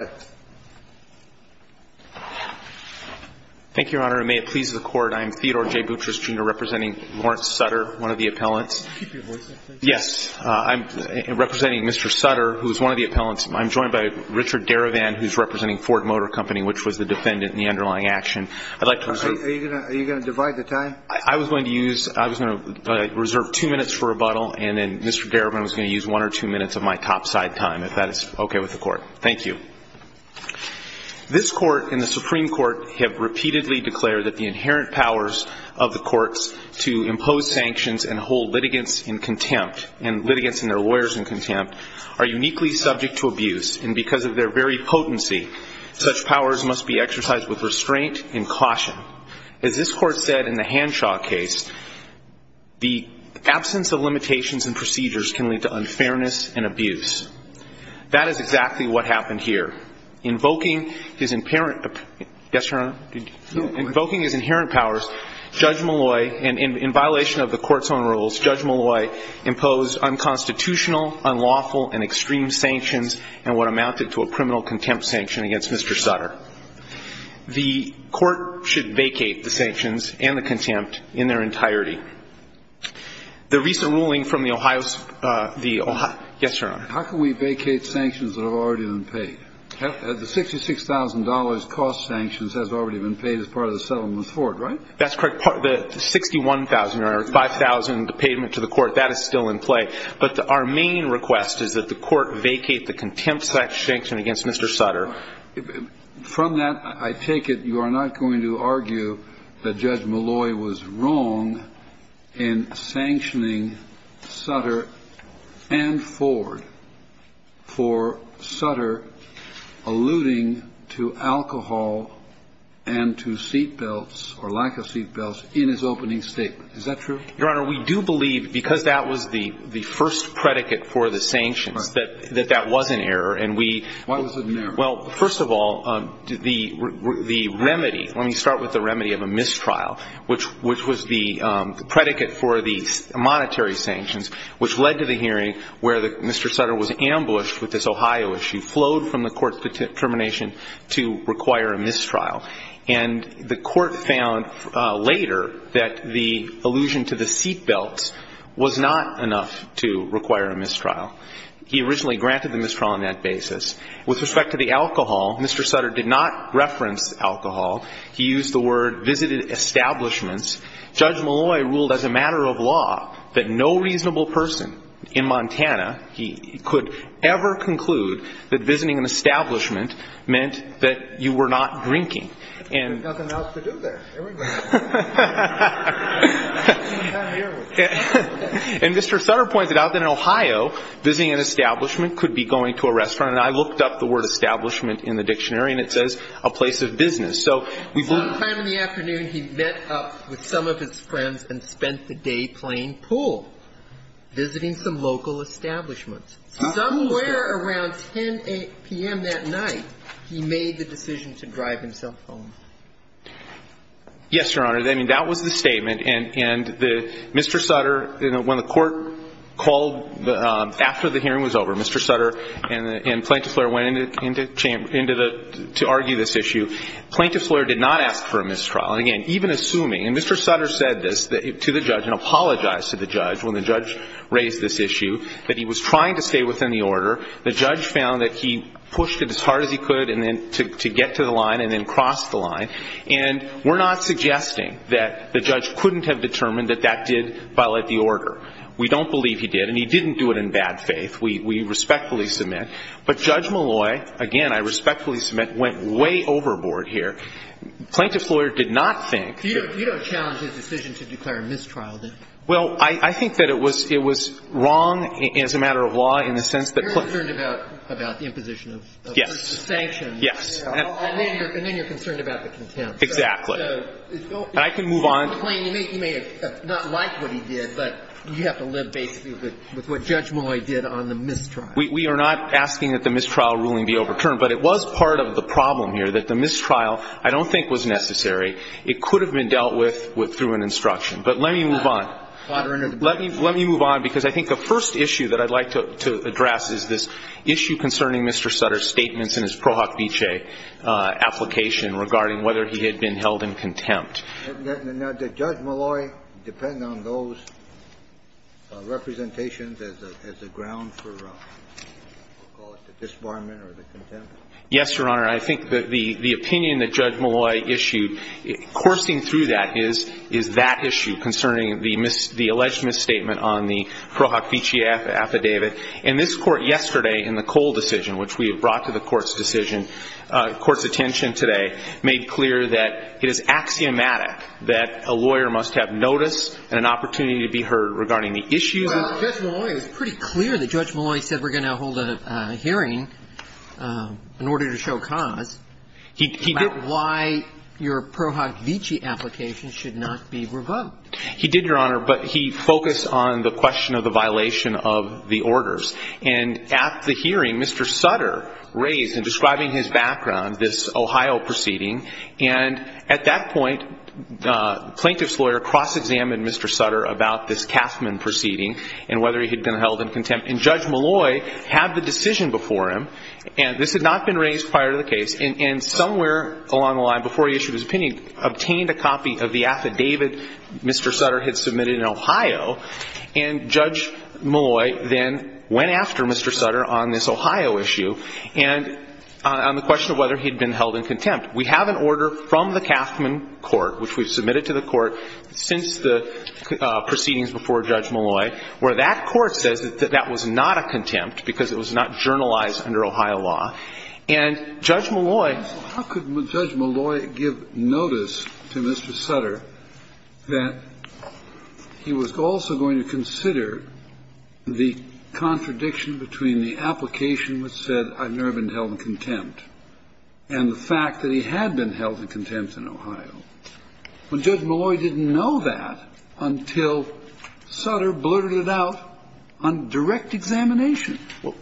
I'm joined by Richard Derivan, who's representing Ford Motor Company, which was the defendant in the underlying action. I'd like to reserve two minutes for rebuttal, and then Mr. Derivan is going to use one or two minutes of my topside time, if that is okay with the court. Thank you. This court and the Supreme Court have repeatedly declared that the inherent powers of the courts to impose sanctions and hold litigants in contempt, and litigants and their lawyers in contempt, are uniquely subject to abuse, and because of their very potency, such powers must be exercised with restraint and caution. As this court said in the Hanshaw case, the absence of limitations and procedures can lead to unfairness and abuse. That is exactly what happened here. Invoking his inherent powers, Judge Malloy, and in violation of the court's own rules, Judge Malloy imposed unconstitutional, unlawful, and extreme sanctions, and what amounted to a criminal contempt sanction against Mr. Sutter. The court should vacate the sanctions and the contempt in their entirety. The recent ruling from the Ohio – yes, Your Honor. How can we vacate sanctions that have already been paid? The $66,000 cost sanctions has already been paid as part of the settlement with Ford, right? That's correct. The $61,000 or $5,000 payment to the court, that is still in play. But our main request is that the court vacate the contempt sanction against Mr. Sutter. From that, I take it you are not going to argue that Judge Malloy was wrong in sanctioning Sutter and Ford for Sutter alluding to alcohol and to seatbelts, or lack of seatbelts, in his opening statement. Is that true? Your Honor, we do believe, because that was the first predicate for the sanctions, that that was an error. Why was it an error? Well, first of all, the remedy – let me start with the remedy of a mistrial, which was the predicate for the monetary sanctions, which led to the hearing where Mr. Sutter was ambushed with this Ohio issue, flowed from the court's determination to require a mistrial. And the court found later that the allusion to the seatbelts was not enough to require a mistrial. He originally granted the mistrial on that basis. With respect to the alcohol, Mr. Sutter did not reference alcohol. He used the word visited establishments. Judge Malloy ruled as a matter of law that no reasonable person in Montana could ever conclude that visiting an establishment meant that you were not drinking. There's nothing else to do there. And Mr. Sutter pointed out that in Ohio, visiting an establishment could be going to a restaurant. And I looked up the word establishment in the dictionary, and it says a place of business. So we've – One time in the afternoon, he met up with some of his friends and spent the day playing pool, visiting some local establishments. Somewhere around 10 p.m. that night, he made the decision to drive himself home. Yes, Your Honor. I mean, that was the statement. And the – Mr. Sutter – when the court called after the hearing was over, Mr. Sutter and Plaintiff lawyer went into the – to argue this issue. Plaintiff's lawyer did not ask for a mistrial. And again, even assuming – and Mr. Sutter said this to the judge and apologized to the judge when the judge raised this issue, that he was trying to stay within the order. The judge found that he pushed it as hard as he could and then – to get to the line and then crossed the line. And we're not suggesting that the judge couldn't have determined that that did violate the order. We don't believe he did. And he didn't do it in bad faith. We respectfully submit. But Judge Malloy, again, I respectfully submit, went way overboard here. Plaintiff's lawyer did not think that – You don't challenge his decision to declare a mistrial, do you? Well, I think that it was wrong as a matter of law in the sense that – You're concerned about the imposition of sanctions. Yes. And then you're concerned about the contempt. Exactly. And I can move on. You may not like what he did, but you have to live basically with what Judge Malloy did on the mistrial. We are not asking that the mistrial ruling be overturned. But it was part of the problem here that the mistrial I don't think was necessary. It could have been dealt with through an instruction. But let me move on. Let me move on, because I think the first issue that I'd like to address is this issue concerning Mr. Sutter's statements in his Pro Hoc Vice application regarding whether he had been held in contempt. Now, did Judge Malloy depend on those representations as a ground for, we'll call it, the disbarment or the contempt? Yes, Your Honor. I think that the opinion that Judge Malloy issued coursing through that is that issue concerning the alleged misstatement on the Pro Hoc Vice affidavit. And this Court yesterday in the Cole decision, which we have brought to the Court's that a lawyer must have notice and an opportunity to be heard regarding the issues. Well, Judge Malloy was pretty clear that Judge Malloy said we're going to hold a hearing in order to show cause. He did. About why your Pro Hoc Vice application should not be revoked. He did, Your Honor, but he focused on the question of the violation of the orders. And at the hearing, Mr. Sutter raised in describing his background this Ohio proceeding. And at that point, the plaintiff's lawyer cross-examined Mr. Sutter about this Kauffman proceeding and whether he had been held in contempt. And Judge Malloy had the decision before him. And this had not been raised prior to the case. And somewhere along the line, before he issued his opinion, obtained a copy of the affidavit Mr. Sutter had submitted in Ohio. And Judge Malloy then went after Mr. Sutter on this Ohio issue and on the question of whether he had been held in contempt. We have an order from the Kauffman Court, which we've submitted to the Court since the proceedings before Judge Malloy, where that Court says that that was not a contempt because it was not journalized under Ohio law. And Judge Malloy. How could Judge Malloy give notice to Mr. Sutter that he was also going to consider the contradiction between the application which said I've never been held in contempt and the fact that he had been held in contempt in Ohio, when Judge Malloy didn't know that until Sutter blurted it out on direct examination? Well,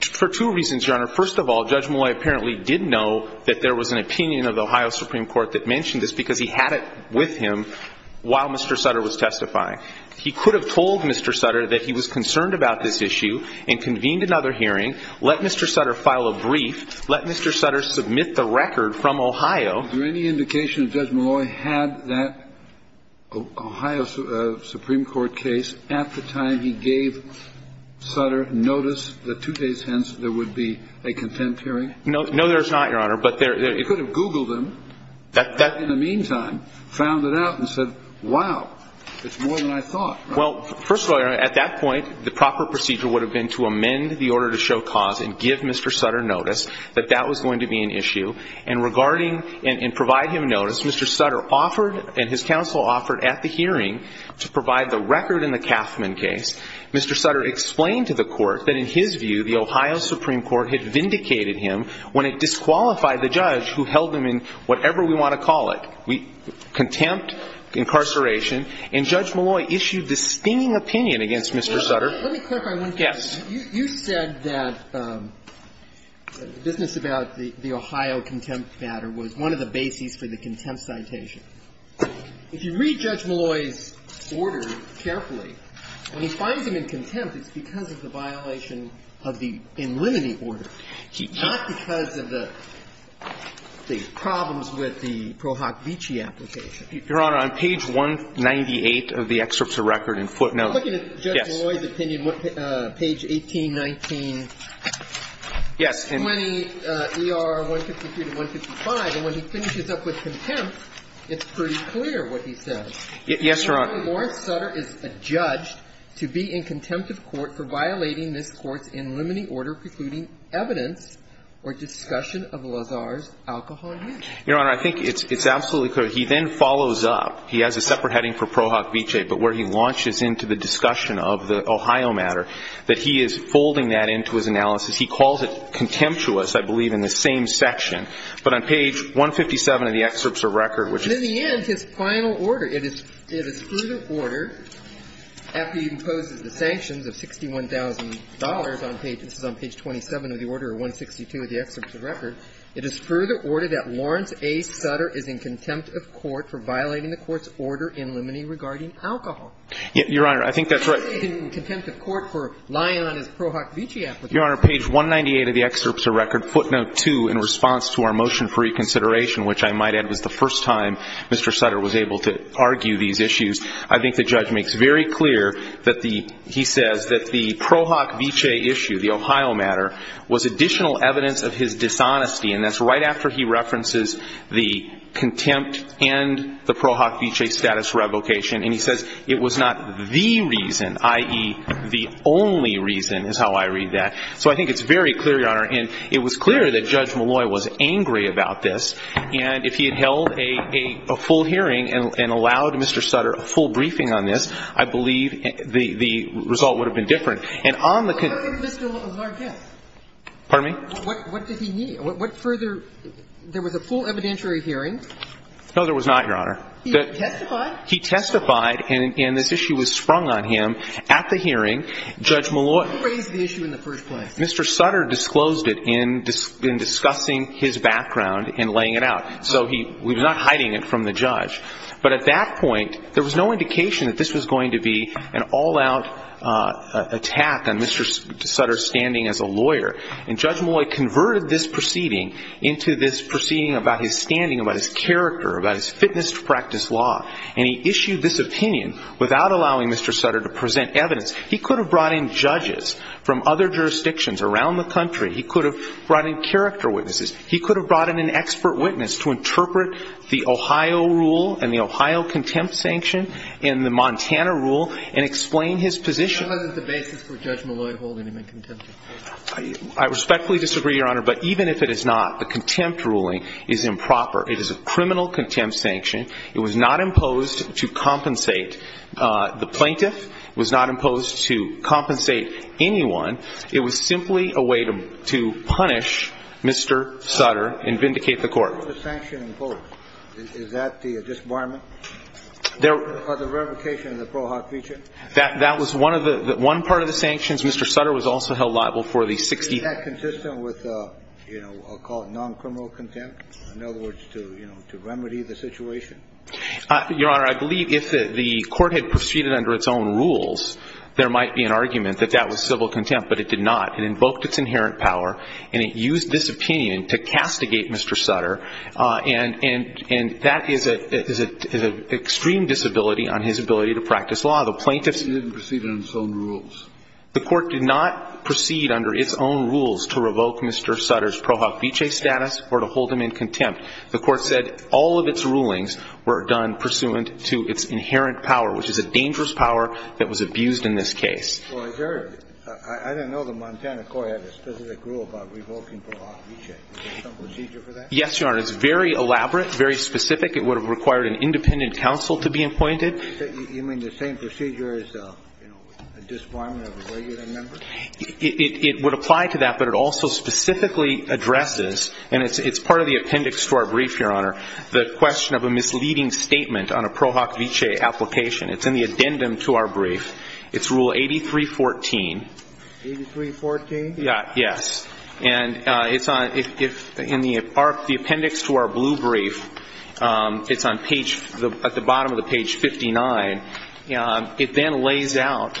for two reasons, Your Honor. First of all, Judge Malloy apparently did know that there was an opinion of the Ohio Supreme Court that mentioned this because he had it with him while Mr. Sutter was testifying. He could have told Mr. Sutter that he was concerned about this issue and convened another hearing, let Mr. Sutter file a brief, let Mr. Sutter submit the record from Ohio. Is there any indication that Judge Malloy had that Ohio Supreme Court case at the time he gave Sutter notice that two days hence there would be a contempt hearing? No, there's not, Your Honor. He could have Googled them. In the meantime, found it out and said, wow, it's more than I thought. Well, first of all, Your Honor, at that point, the proper procedure would have been to amend the order to show cause and give Mr. Sutter notice that that was going to be an issue. And regarding and provide him notice, Mr. Sutter offered and his counsel offered at the hearing to provide the record in the Kauffman case. Mr. Sutter explained to the Court that in his view the Ohio Supreme Court had vindicated him when it disqualified the judge who held him in whatever we want to call it, contempt, incarceration. And Judge Malloy issued this stinging opinion against Mr. Sutter. Let me clarify one thing. Yes. You said that the business about the Ohio contempt matter was one of the bases for the contempt citation. If you read Judge Malloy's order carefully, when he finds him in contempt, it's because of the violation of the in limine order, not because of the problems with the Pro Hoc Vici application. Your Honor, on page 198 of the excerpts of record in footnote, yes. And on page 1819. Yes. And when he ER 153 to 155, and when he finishes up with contempt, it's pretty clear what he says. Yes, Your Honor. Lawrence Sutter is adjudged to be in contempt of court for violating this court's in limine order precluding evidence or discussion of Lazar's alcohol use. Your Honor, I think it's absolutely clear. He then follows up. He has a separate heading for Pro Hoc Vici, but where he launches into the discussion of the Ohio matter, that he is folding that into his analysis. He calls it contemptuous, I believe, in the same section. But on page 157 of the excerpts of record, which is. And in the end, his final order, it is through the order, after he imposes the sanctions of $61,000 on page. This is on page 27 of the order, or 162 of the excerpts of record. It is through the order that Lawrence A. Sutter is in contempt of court for violating the court's order in limine regarding alcohol. Your Honor, I think that's right. In contempt of court for lying on his Pro Hoc Vici application. Your Honor, page 198 of the excerpts of record, footnote 2, in response to our motion for reconsideration, which I might add was the first time Mr. Sutter was able to argue these issues. I think the judge makes very clear that the he says that the Pro Hoc Vici issue, the Ohio matter, was additional evidence of his dishonesty. And that's right after he references the contempt and the Pro Hoc Vici status revocation. And he says it was not the reason, i.e., the only reason, is how I read that. So I think it's very clear, Your Honor. And it was clear that Judge Malloy was angry about this. And if he had held a full hearing and allowed Mr. Sutter a full briefing on this, I believe the result would have been different. And on the concerns of Mr. Lawrence. Pardon me? What did he need? What further? There was a full evidentiary hearing. No, there was not, Your Honor. He testified? He testified, and this issue was sprung on him at the hearing. Judge Malloy. Who raised the issue in the first place? Mr. Sutter disclosed it in discussing his background and laying it out. So he was not hiding it from the judge. But at that point, there was no indication that this was going to be an all-out attack on Mr. Sutter's standing as a lawyer. And Judge Malloy converted this proceeding into this proceeding about his standing, about his character, about his fitness to practice law. And he issued this opinion without allowing Mr. Sutter to present evidence. He could have brought in judges from other jurisdictions around the country. He could have brought in character witnesses. He could have brought in an expert witness to interpret the Ohio rule and the Ohio contempt sanction and the Montana rule and explain his position. That wasn't the basis for Judge Malloy holding him in contempt. I respectfully disagree, Your Honor. But even if it is not, the contempt ruling is improper. It is a criminal contempt sanction. It was not imposed to compensate the plaintiff. It was not imposed to compensate anyone. It was simply a way to punish Mr. Sutter and vindicate the court. What was the sanction imposed? Is that the disbarment? Or the revocation of the ProHoc feature? That was one of the one part of the sanctions. Mr. Sutter was also held liable for the 16th. Was that consistent with a, you know, I'll call it non-criminal contempt? In other words, to, you know, to remedy the situation? Your Honor, I believe if the court had proceeded under its own rules, there might be an argument that that was civil contempt, but it did not. It invoked its inherent power, and it used this opinion to castigate Mr. Sutter. And that is an extreme disability on his ability to practice law. The plaintiffs didn't proceed under its own rules. The court did not proceed under its own rules to revoke Mr. Sutter's ProHoc feature status or to hold him in contempt. The court said all of its rulings were done pursuant to its inherent power, which is a dangerous power that was abused in this case. I didn't know the Montana court had a specific rule about revoking ProHoc feature. Is there some procedure for that? Yes, Your Honor. It's very elaborate, very specific. It would have required an independent counsel to be appointed. You mean the same procedure as a disbarment of a regular member? It would apply to that, but it also specifically addresses, and it's part of the appendix to our brief, Your Honor, the question of a misleading statement on a ProHoc feature application. It's in the addendum to our brief. It's Rule 8314. 8314? Yes. And it's in the appendix to our blue brief. It's at the bottom of the page 59. It then lays out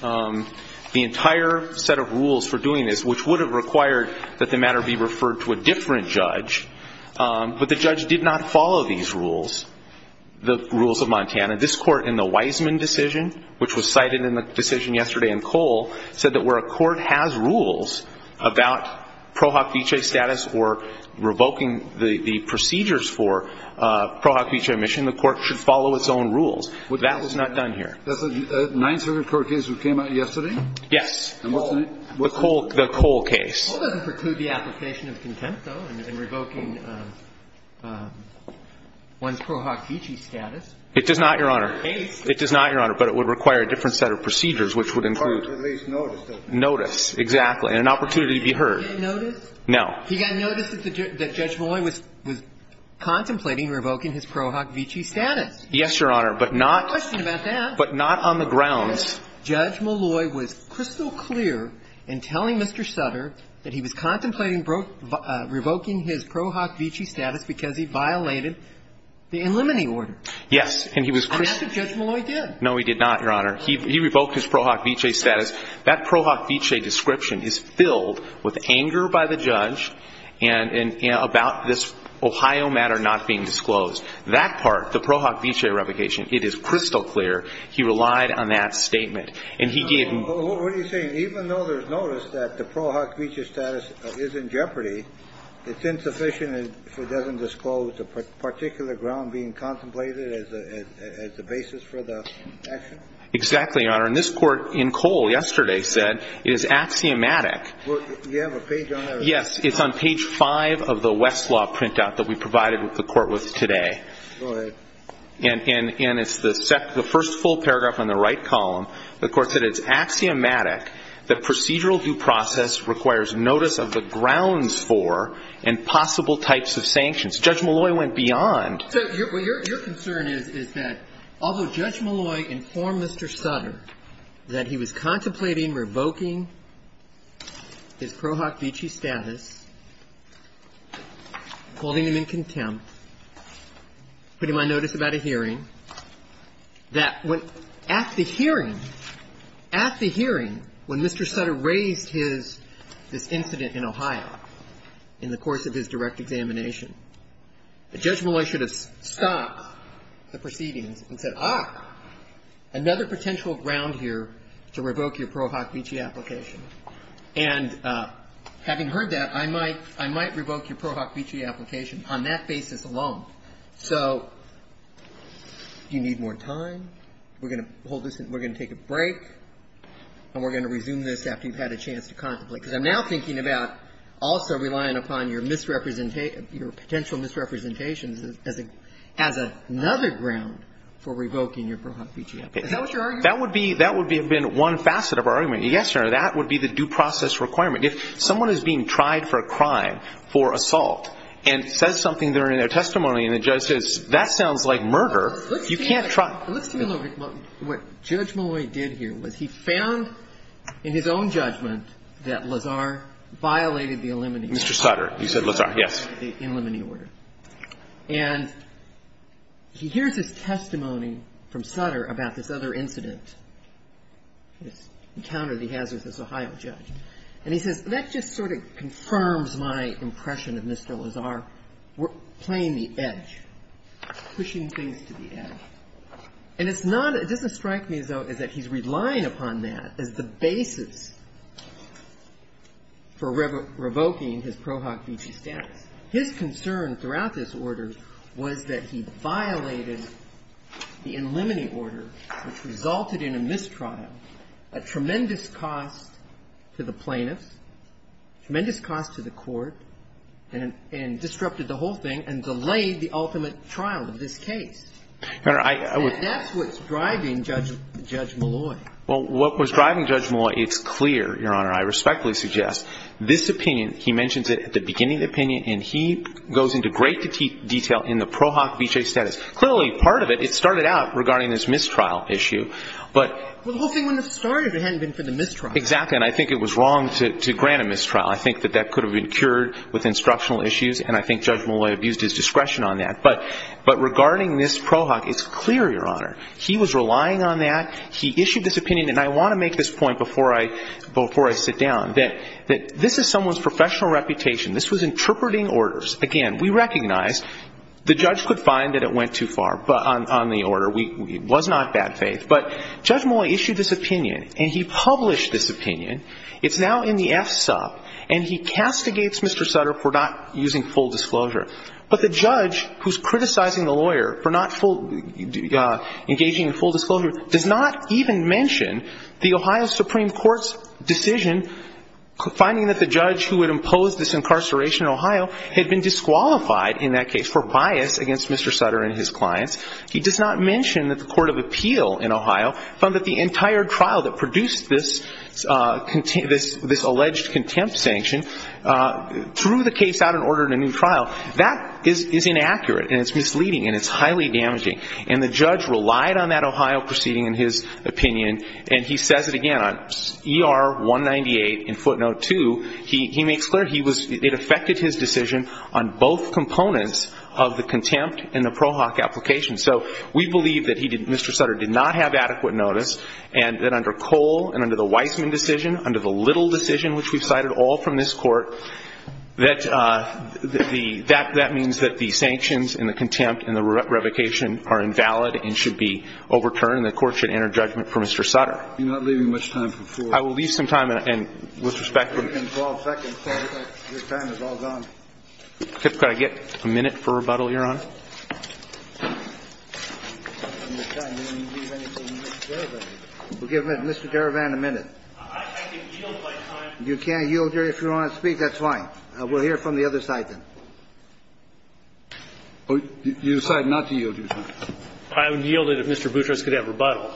the entire set of rules for doing this, which would have required that the matter be referred to a different judge, but the judge did not follow these rules, the rules of Montana. This court in the Wiseman decision, which was cited in the decision yesterday in Cole, said that where a court has rules about ProHoc feature status or revoking the procedures for ProHoc feature admission, the court should follow its own rules. That was not done here. That's a 9th Circuit court case that came out yesterday? Yes. And what's the name? The Cole case. Cole doesn't preclude the application of contempt, though, in revoking one's ProHoc feature status. It does not, Your Honor. It does not, Your Honor, but it would require a different set of procedures, which would include notice, exactly, and an opportunity to be heard. Did he get notice? No. He got notice that Judge Molloy was contemplating revoking his ProHoc feature status. Yes, Your Honor, but not on the grounds. Judge Molloy was crystal clear in telling Mr. Sutter that he was contemplating revoking his ProHoc feature status because he violated the eliminating order. Yes. And that's what Judge Molloy did. No, he did not, Your Honor. He revoked his ProHoc feature status. That ProHoc feature description is filled with anger by the judge and about this Ohio matter not being disclosed. That part, the ProHoc feature replication, it is crystal clear he relied on that statement, and he didn't. What are you saying? Even though there's notice that the ProHoc feature status is in jeopardy, it's insufficient if it doesn't disclose the particular ground being contemplated as the basis for the action? Exactly, Your Honor. And this Court in Cole yesterday said it is axiomatic. You have a page on that? Yes. It's on page 5 of the Westlaw printout that we provided the Court with today. Go ahead. And it's the first full paragraph on the right column. The Court said it's axiomatic that procedural due process requires notice of the grounds for and possible types of sanctions. Judge Molloy went beyond. So your concern is that although Judge Molloy informed Mr. Sutter that he was contemplating revoking his ProHoc feature status, holding him in contempt, putting my notice about a hearing, that at the hearing, at the hearing when Mr. Sutter raised his, this incident in Ohio in the course of his direct examination, that Judge Molloy should have stopped the proceedings and said, ah, another potential ground here to revoke your ProHoc feature application. And having heard that, I might, I might revoke your ProHoc feature application on that basis alone. So do you need more time? We're going to hold this and we're going to take a break, and we're going to resume this after you've had a chance to contemplate. Because I'm now thinking about also relying upon your misrepresentation of your potential misrepresentations as a, as another ground for revoking your ProHoc feature application. Is that what you're arguing? That would be, that would have been one facet of our argument. Yes, Your Honor, that would be the due process requirement. If someone is being tried for a crime, for assault, and says something there in their testimony, and the judge says, that sounds like murder, you can't try. Let's do a little, what Judge Molloy did here was he found in his own judgment that Lazar violated the eliminate clause. Mr. Sutter. You said Lazar, yes. The eliminate order. And he hears his testimony from Sutter about this other incident, this encounter that he has with this Ohio judge. And he says, that just sort of confirms my impression of Mr. Lazar playing the edge, pushing things to the edge. And it's not, it doesn't strike me as though, as that he's relying upon that as the basis for revoking his ProHoc feature status. His concern throughout this order was that he violated the eliminate order, which resulted in a mistrial, a tremendous cost to the plaintiffs, tremendous cost to the court, and disrupted the whole thing, and delayed the ultimate trial of this case. Your Honor, I would. And that's what's driving Judge Molloy. Well, what was driving Judge Molloy, it's clear, Your Honor, I respectfully suggest, this opinion, he mentions it at the beginning of the opinion, and he goes into great detail in the ProHoc feature status. Clearly, part of it, it started out regarding this mistrial issue, but. Well, the whole thing wouldn't have started if it hadn't been for the mistrial. Exactly. And I think it was wrong to grant a mistrial. I think that that could have been cured with instructional issues, and I think Judge Molloy abused his discretion on that. But regarding this ProHoc, it's clear, Your Honor, he was relying on that, he issued this opinion, and I want to make this point before I sit down, that this is someone's professional reputation. This was interpreting orders. Again, we recognize the judge could find that it went too far on the order. It was not bad faith. But Judge Molloy issued this opinion, and he published this opinion. It's now in the F-Sub, and he castigates Mr. Sutter for not using full disclosure. But the judge, who's criticizing the lawyer for not engaging in full disclosure, does not even mention the Ohio Supreme Court's decision, finding that the judge who had imposed this incarceration in Ohio had been disqualified in that case for bias against Mr. Sutter and his clients. He does not mention that the Court of Appeal in Ohio found that the entire trial that produced this alleged contempt sanction threw the case out and ordered a new trial. That is inaccurate, and it's misleading, and it's highly damaging. And the judge relied on that Ohio proceeding in his opinion, and he says it again. On ER-198 in footnote 2, he makes clear it affected his decision on both components of the contempt and the PROHOC application. So we believe that Mr. Sutter did not have adequate notice, and that under Cole and under the Weissman decision, under the Little decision, which we've cited all from this court, that means that the sanctions and the contempt and the revocation are invalid and should be overturned, and the Court should enter judgment for Mr. Sutter. You're not leaving much time for four. I will leave some time, and with respect to the court. You're taking 12 seconds. Your time is all gone. Could I get a minute for rebuttal, Your Honor? We'll give Mr. Derevan a minute. I can yield my time. You can yield your time if you want to speak. That's fine. We'll hear from the other side then. You decide not to yield your time. I would yield it if Mr. Boutros could have rebuttal.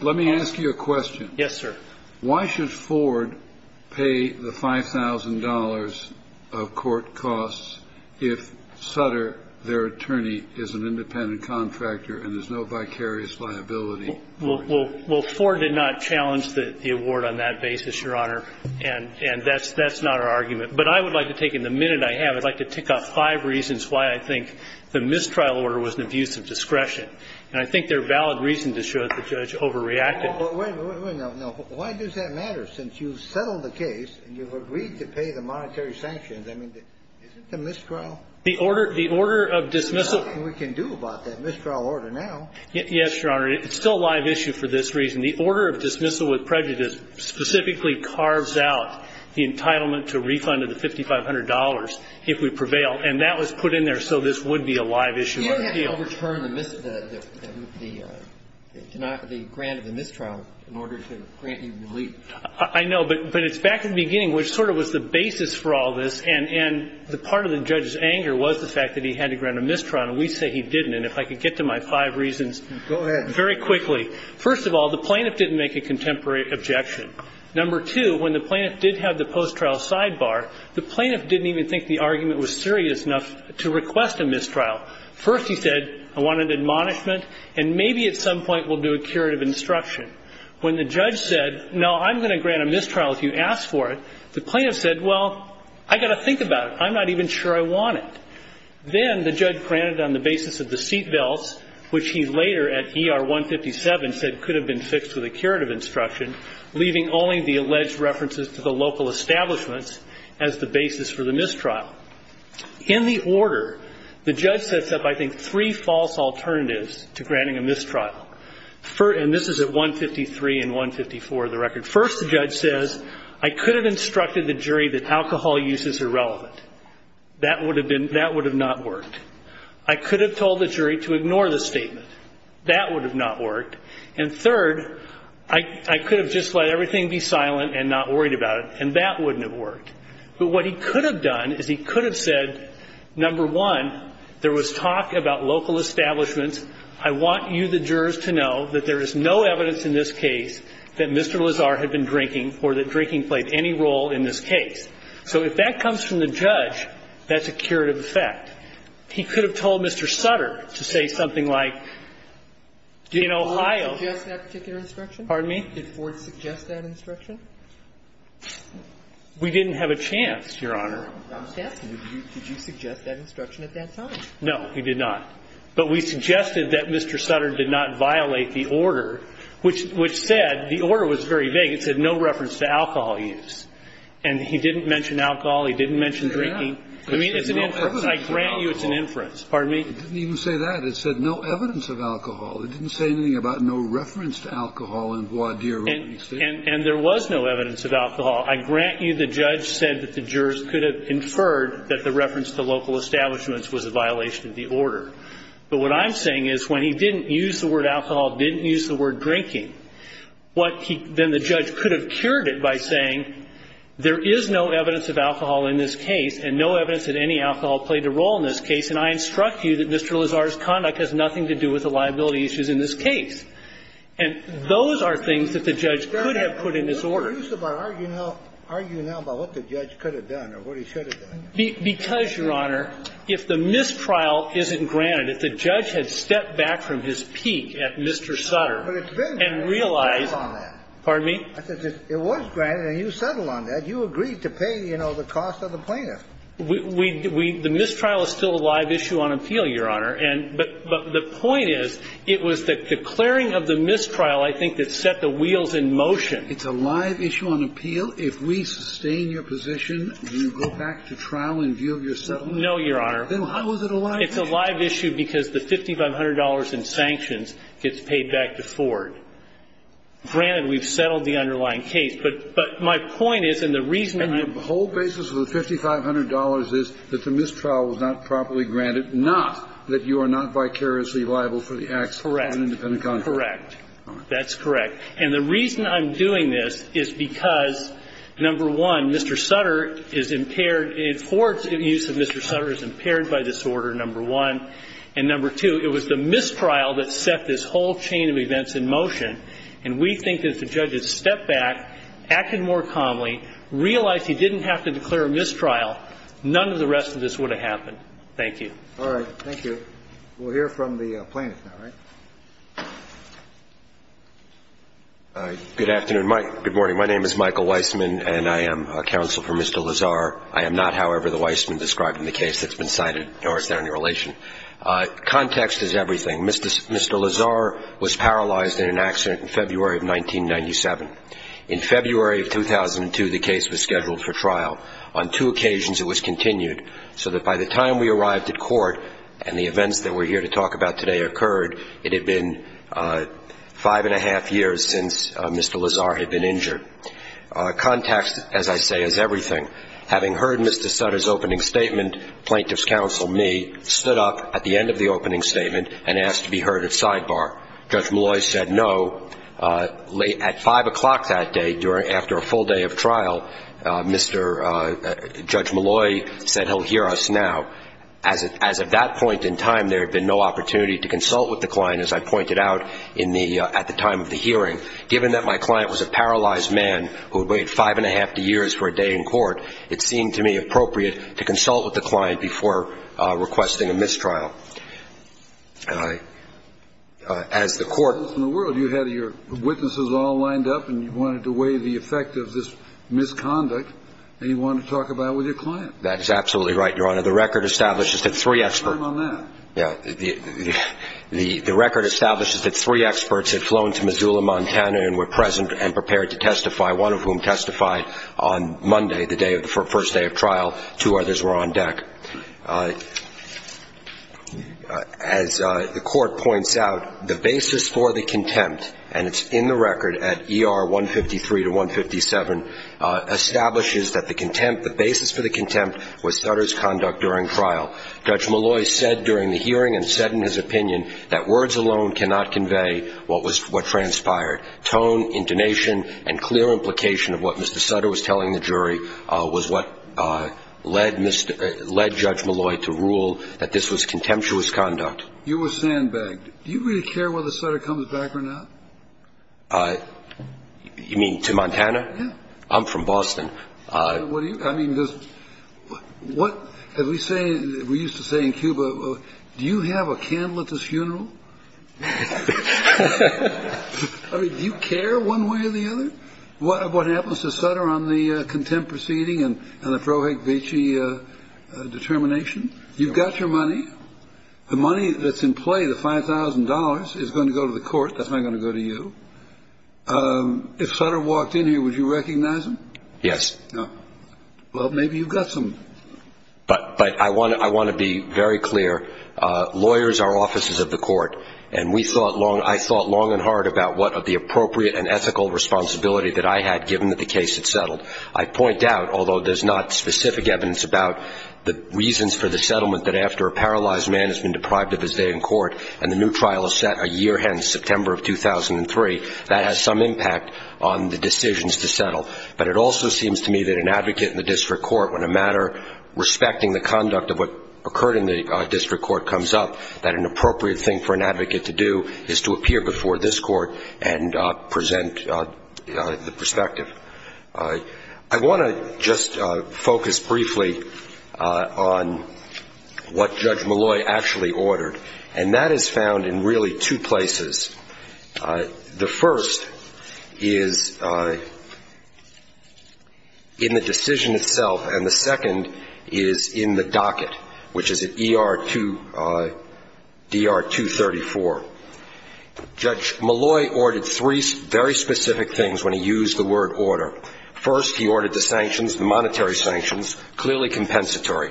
Let me ask you a question. Yes, sir. Why should Ford pay the $5,000 of court costs if Sutter, their attorney, is an independent contractor and there's no vicarious liability? Well, Ford did not challenge the award on that basis, Your Honor, and that's not our argument. But I would like to take, in the minute I have, I'd like to tick off five reasons why I think the mistrial order was an abuse of discretion. And I think they're a valid reason to show that the judge overreacted. Wait a minute. Why does that matter? Since you've settled the case and you've agreed to pay the monetary sanctions, I mean, isn't the mistrial order something we can do about that mistrial order now? Yes, Your Honor. It's still a live issue for this reason. The order of dismissal with prejudice specifically carves out the entitlement to refund of the $5,500 if we prevail. And that was put in there so this would be a live issue on the field. But you haven't overturned the grant of the mistrial in order to grant you relief. I know. But it's back in the beginning, which sort of was the basis for all this. And the part of the judge's anger was the fact that he had to grant a mistrial and we say he didn't. I'm going to give you a little bit of background. And if I could get to my five reasons very quickly. First of all, the plaintiff didn't make a contemporary objection. Number two, when the plaintiff did have the post-trial sidebar, the plaintiff didn't even think the argument was serious enough to request a mistrial. First he said, I want an admonishment and maybe at some point we'll do a curative instruction. When the judge said, no, I'm going to grant a mistrial if you ask for it, the plaintiff said, well, I've got to think about it. I'm not even sure I want it. Then the judge granted on the basis of the seat belts, which he later at ER 157 said could have been fixed with a curative instruction, leaving only the alleged references to the local establishments as the basis for the mistrial. In the order, the judge sets up I think three false alternatives to granting a mistrial. And this is at 153 and 154 of the record. First the judge says, I could have instructed the jury that alcohol use is irrelevant. That would have not worked. I could have told the jury to ignore the statement. That would have not worked. And third, I could have just let everything be silent and not worried about it, and that wouldn't have worked. But what he could have done is he could have said, number one, there was talk about local establishments. I want you, the jurors, to know that there is no evidence in this case that Mr. Lazar had been drinking or that drinking played any role in this case. So if that comes from the judge, that's a curative effect. He could have told Mr. Sutter to say something like, in Ohio. Sotomayor did Ford suggest that particular instruction? Pardon me? Did Ford suggest that instruction? We didn't have a chance, Your Honor. Did you suggest that instruction at that time? No, we did not. But we suggested that Mr. Sutter did not violate the order, which said the order was very vague. It said no reference to alcohol use. And he didn't mention alcohol. He didn't mention drinking. I mean, it's an inference. I grant you it's an inference. Pardon me? It didn't even say that. It said no evidence of alcohol. It didn't say anything about no reference to alcohol in voir dire. And there was no evidence of alcohol. I grant you the judge said that the jurors could have inferred that the reference to local establishments was a violation of the order. But what I'm saying is when he didn't use the word alcohol, didn't use the word there is no evidence of alcohol in this case and no evidence that any alcohol played a role in this case. And I instruct you that Mr. Lazar's conduct has nothing to do with the liability issues in this case. And those are things that the judge could have put in this order. We're confused about arguing now about what the judge could have done or what he should have done. Because, Your Honor, if the mistrial isn't granted, if the judge had stepped back from his peak at Mr. Sutter and realized that, pardon me? I said, if it was granted and you settled on that, you agreed to pay, you know, the cost of the plaintiff. We do. The mistrial is still a live issue on appeal, Your Honor. But the point is, it was the declaring of the mistrial, I think, that set the wheels in motion. It's a live issue on appeal? If we sustain your position and you go back to trial in view of your settlement? No, Your Honor. Then how is it a live issue? It's a live issue because the $5,500 in sanctions gets paid back to Ford. Granted, we've settled the underlying case. But my point is, and the reason I'm going to go back to trial in view of your settlement. And the whole basis of the $5,500 is that the mistrial was not properly granted, not that you are not vicariously liable for the acts of an independent contractor. Correct. Correct. That's correct. And the reason I'm doing this is because, number one, Mr. Sutter is impaired. Ford's use of Mr. Sutter is impaired by this order, number one. And number two, it was the mistrial that set this whole chain of events in motion. And we think as the judges stepped back, acted more calmly, realized he didn't have to declare a mistrial, none of the rest of this would have happened. Thank you. All right. Thank you. We'll hear from the plaintiff now, right? Good afternoon. Good morning. My name is Michael Weissman, and I am a counsel for Mr. Lazar. I am not, however, the Weissman described in the case that's been cited, nor is there any relation. Context is everything. Mr. Lazar was paralyzed in an accident in February of 1997. In February of 2002, the case was scheduled for trial. On two occasions, it was continued so that by the time we arrived at court and the events that we're here to talk about today occurred, it had been five and a half years since Mr. Lazar had been injured. Context, as I say, is everything. Having heard Mr. Sutter's opening statement, plaintiff's counsel, me, stood up at the end of the opening statement and asked to be heard at sidebar. Judge Malloy said no. At 5 o'clock that day, after a full day of trial, Judge Malloy said he'll hear us now. As of that point in time, there had been no opportunity to consult with the client, as I pointed out, at the time of the hearing. Given that my client was a paralyzed man who had waited five and a half years for a day in court, it seemed to me appropriate to consult with the client before requesting a mistrial. As the court ---- In the world, you had your witnesses all lined up and you wanted to weigh the effect of this misconduct and you wanted to talk about it with your client. That is absolutely right, Your Honor. The record establishes that three experts ---- Time on that. The record establishes that three experts had flown to Missoula, Montana, and were present and prepared to testify, one of whom testified on Monday, the first day of trial. Two others were on deck. As the court points out, the basis for the contempt, and it's in the record at ER 153 to 157, establishes that the contempt, the basis for the contempt was Sutter's conduct during trial. Judge Malloy said during the hearing and said in his opinion that words alone cannot convey what transpired. Tone, intonation, and clear implication of what Mr. Sutter was telling the jury was what led Judge Malloy to rule that this was contemptuous conduct. You were sandbagged. Do you really care whether Sutter comes back or not? You mean to Montana? Yes. I'm from Boston. I mean, what have we seen? We used to say in Cuba, do you have a candle at this funeral? I mean, do you care one way or the other? What happens to Sutter on the contempt proceeding and the Frohek-Veche determination? You've got your money. The money that's in play, the $5,000, is going to go to the court. That's not going to go to you. If Sutter walked in here, would you recognize him? Yes. Well, maybe you've got some. But I want to be very clear. Lawyers are offices of the court, and I thought long and hard about what the appropriate and ethical responsibility that I had given that the case had settled. I point out, although there's not specific evidence about the reasons for the settlement, that after a paralyzed man has been deprived of his day in court and the new trial is set a year hence, September of 2003, that has some impact on the decisions to settle. But it also seems to me that an advocate in the district court, when a matter respecting the conduct of what occurred in the district court comes up, that an appropriate thing for an advocate to do is to appear before this court and present the perspective. I want to just focus briefly on what Judge Malloy actually ordered, and that is found in really two places. The first is in the decision itself, and the second is in the docket, which is at ER-234. Judge Malloy ordered three very specific things when he used the word order. First, he ordered the sanctions, the monetary sanctions, clearly compensatory.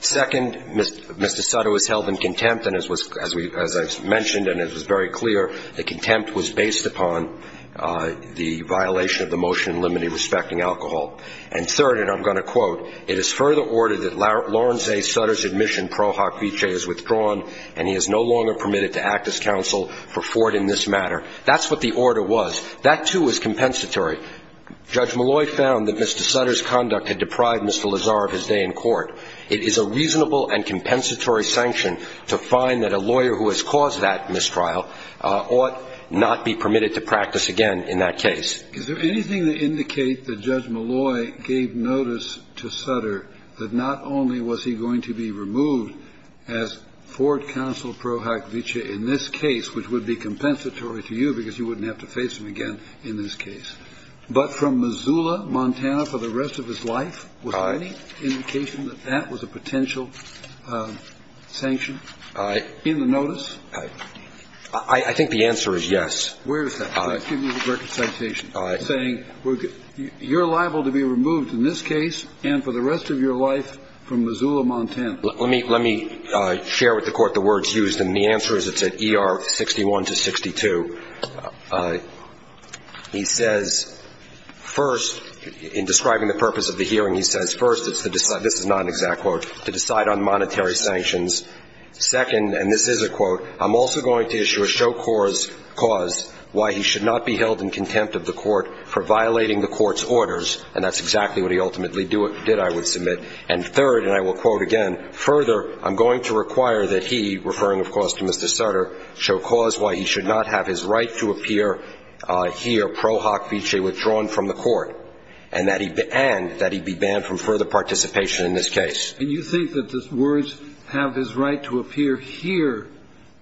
Second, Mr. Sutter was held in contempt, and as I mentioned and as was very clear, the contempt was based upon the violation of the motion limiting respecting alcohol. And third, and I'm going to quote, it is further ordered that Lawrence A. Sutter's admission pro hoc v. J is withdrawn and he is no longer permitted to act as counsel for Ford in this matter. That's what the order was. That, too, was compensatory. Judge Malloy found that Mr. Sutter's conduct had deprived Mr. Lazar of his day in court. It is a reasonable and compensatory sanction to find that a lawyer who has caused that mistrial ought not be permitted to practice again in that case. Is there anything to indicate that Judge Malloy gave notice to Sutter that not only was he going to be removed as Ford counsel pro hoc v. J in this case, which would be compensatory to you because you wouldn't have to face him again in this case, but from Missoula, Montana for the rest of his life? Was there any indication that that was a potential sanction in the notice? I think the answer is yes. Where is that? I'll give you the record citation saying you're liable to be removed in this case and for the rest of your life from Missoula, Montana. Let me share with the Court the words used, and the answer is it's at ER 61 to 62. He says, first, in describing the purpose of the hearing, he says, first, this is not an exact quote, to decide on monetary sanctions. Second, and this is a quote, I'm also going to issue a show cause why he should not be held in contempt of the Court for violating the Court's orders, and that's exactly what he ultimately did, I would submit. And third, and I will quote again, further, I'm going to require that he, referring, of course, to Mr. Sutter, show cause why he should not have his right to appear here pro hoc vise withdrawn from the Court, and that he be banned from further participation in this case. And you think that the words, have his right to appear here,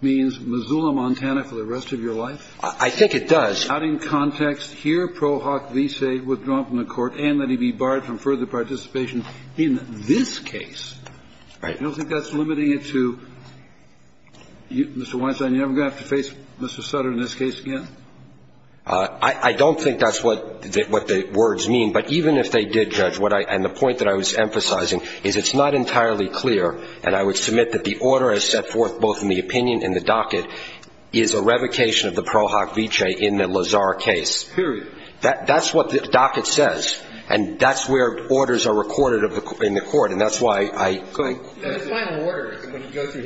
means Missoula, Montana for the rest of your life? I think it does. Out in context, here pro hoc vise withdrawn from the Court, and that he be barred from further participation in this case. Right. You don't think that's limiting it to, Mr. Weinstein, you're never going to have to face Mr. Sutter in this case again? I don't think that's what the words mean, but even if they did, Judge, and the point that I was emphasizing is it's not entirely clear, and I would submit that the order I set forth both in the opinion and the docket is a revocation of the pro hoc vise in the Lazar case. Period. That's what the docket says, and that's where orders are recorded in the Court, and that's why I. Go ahead. The final order, when you go through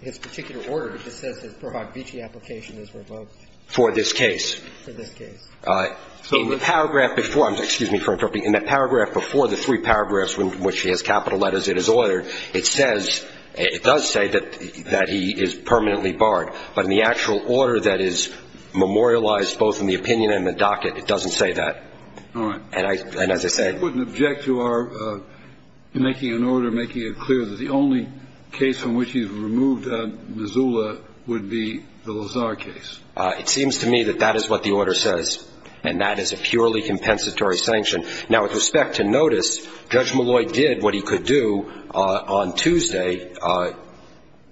his particular order, it just says his pro hoc vise application is revoked. For this case. For this case. In the paragraph before the three paragraphs in which he has capital letters in his order, it says, it does say that he is permanently barred. But in the actual order that is memorialized both in the opinion and the docket, it doesn't say that. All right. And as I said. I wouldn't object to our making an order, making it clear that the only case from which he's removed Missoula would be the Lazar case. It seems to me that that is what the order says, and that is a purely compensatory sanction. Now, with respect to notice, Judge Malloy did what he could do on Tuesday,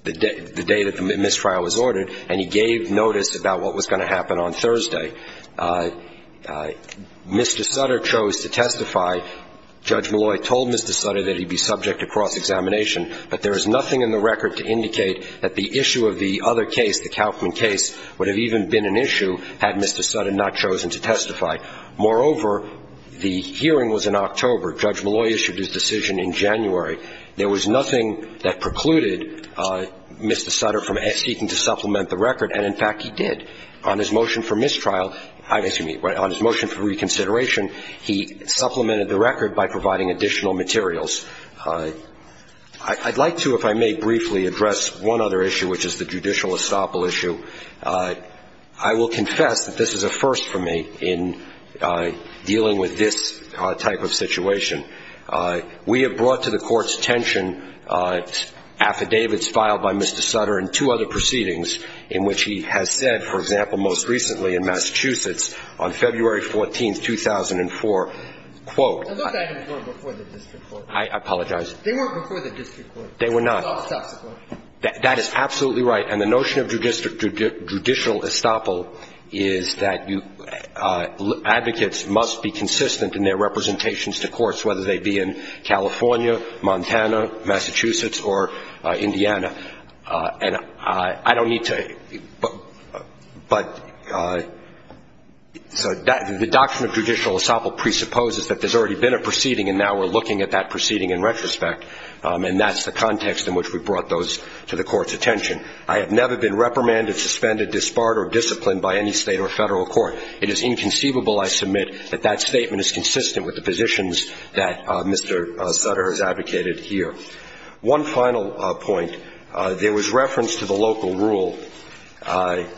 the day that the mistrial was ordered, and he gave notice about what was going to happen on Thursday. Mr. Sutter chose to testify. Judge Malloy told Mr. Sutter that he'd be subject to cross-examination, but there is nothing in the record to indicate that the issue of the other case, the Kauffman case, would have even been an issue had Mr. Sutter not chosen to testify. Moreover, the hearing was in October. Judge Malloy issued his decision in January. There was nothing that precluded Mr. Sutter from seeking to supplement the record, and, in fact, he did. On his motion for mistrial, excuse me, on his motion for reconsideration, he supplemented the record by providing additional materials. I'd like to, if I may briefly, address one other issue, which is the judicial estoppel issue. I will confess that this is a first for me in dealing with this type of situation. We have brought to the Court's attention affidavits filed by Mr. Sutter and two other proceedings in which he has said, for example, most recently in Massachusetts on February 14, 2004, quote. I apologize. They weren't before the district court. They were not. That is absolutely right. And the notion of judicial estoppel is that advocates must be consistent in their representations to courts, whether they be in California, Montana, Massachusetts or Indiana. And I don't need to, but, so the doctrine of judicial estoppel presupposes that there's already been a proceeding and now we're looking at that proceeding in retrospect, and that's the context in which we brought those to the Court's attention. I have never been reprimanded, suspended, disbarred or disciplined by any State or Federal court. It is inconceivable, I submit, that that statement is consistent with the positions that Mr. Sutter has advocated here. One final point. There was reference to the local rule, and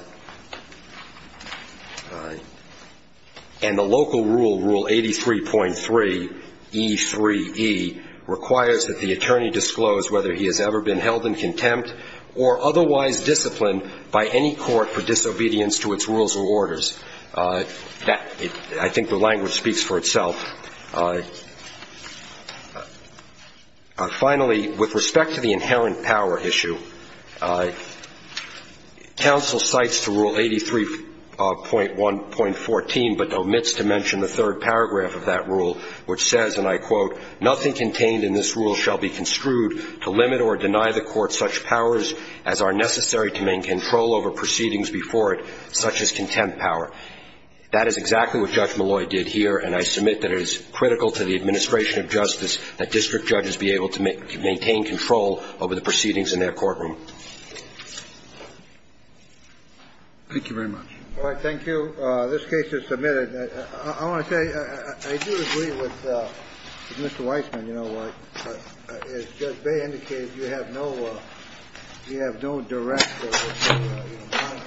the local rule, rule 83.3E3E, requires that the attorney disclose whether he has ever been held in contempt or otherwise disciplined by any court for disobedience to its rules and orders. I think the language speaks for itself. Finally, with respect to the inherent power issue, counsel cites the rule 83.1.14, but omits to mention the third paragraph of that rule, which says, and I quote, nothing contained in this rule shall be construed to limit or deny the court such powers as are necessary to main control over proceedings before it, such as contempt power. That is exactly what Judge Malloy did here, and I submit that it is critical to the administration of justice that district judges be able to maintain control over the proceedings in their courtroom. Thank you very much. All right, thank you. This case is submitted. I want to say, I do agree with Mr. Weissman, you know, as Judge Baye indicated, you have no direct, you know,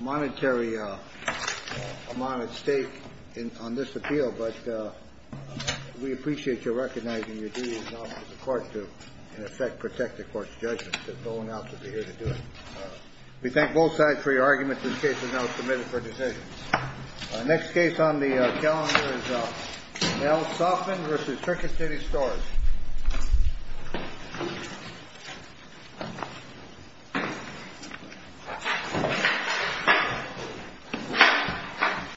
monetary amount at stake on this appeal. But we appreciate your recognizing your duties now to the court to, in effect, protect the court's judgment. They're going out to be here to do it. We thank both sides for your argument. This case is now submitted for decision. Next case on the calendar is Nell Soffman v. Circuit City Storage.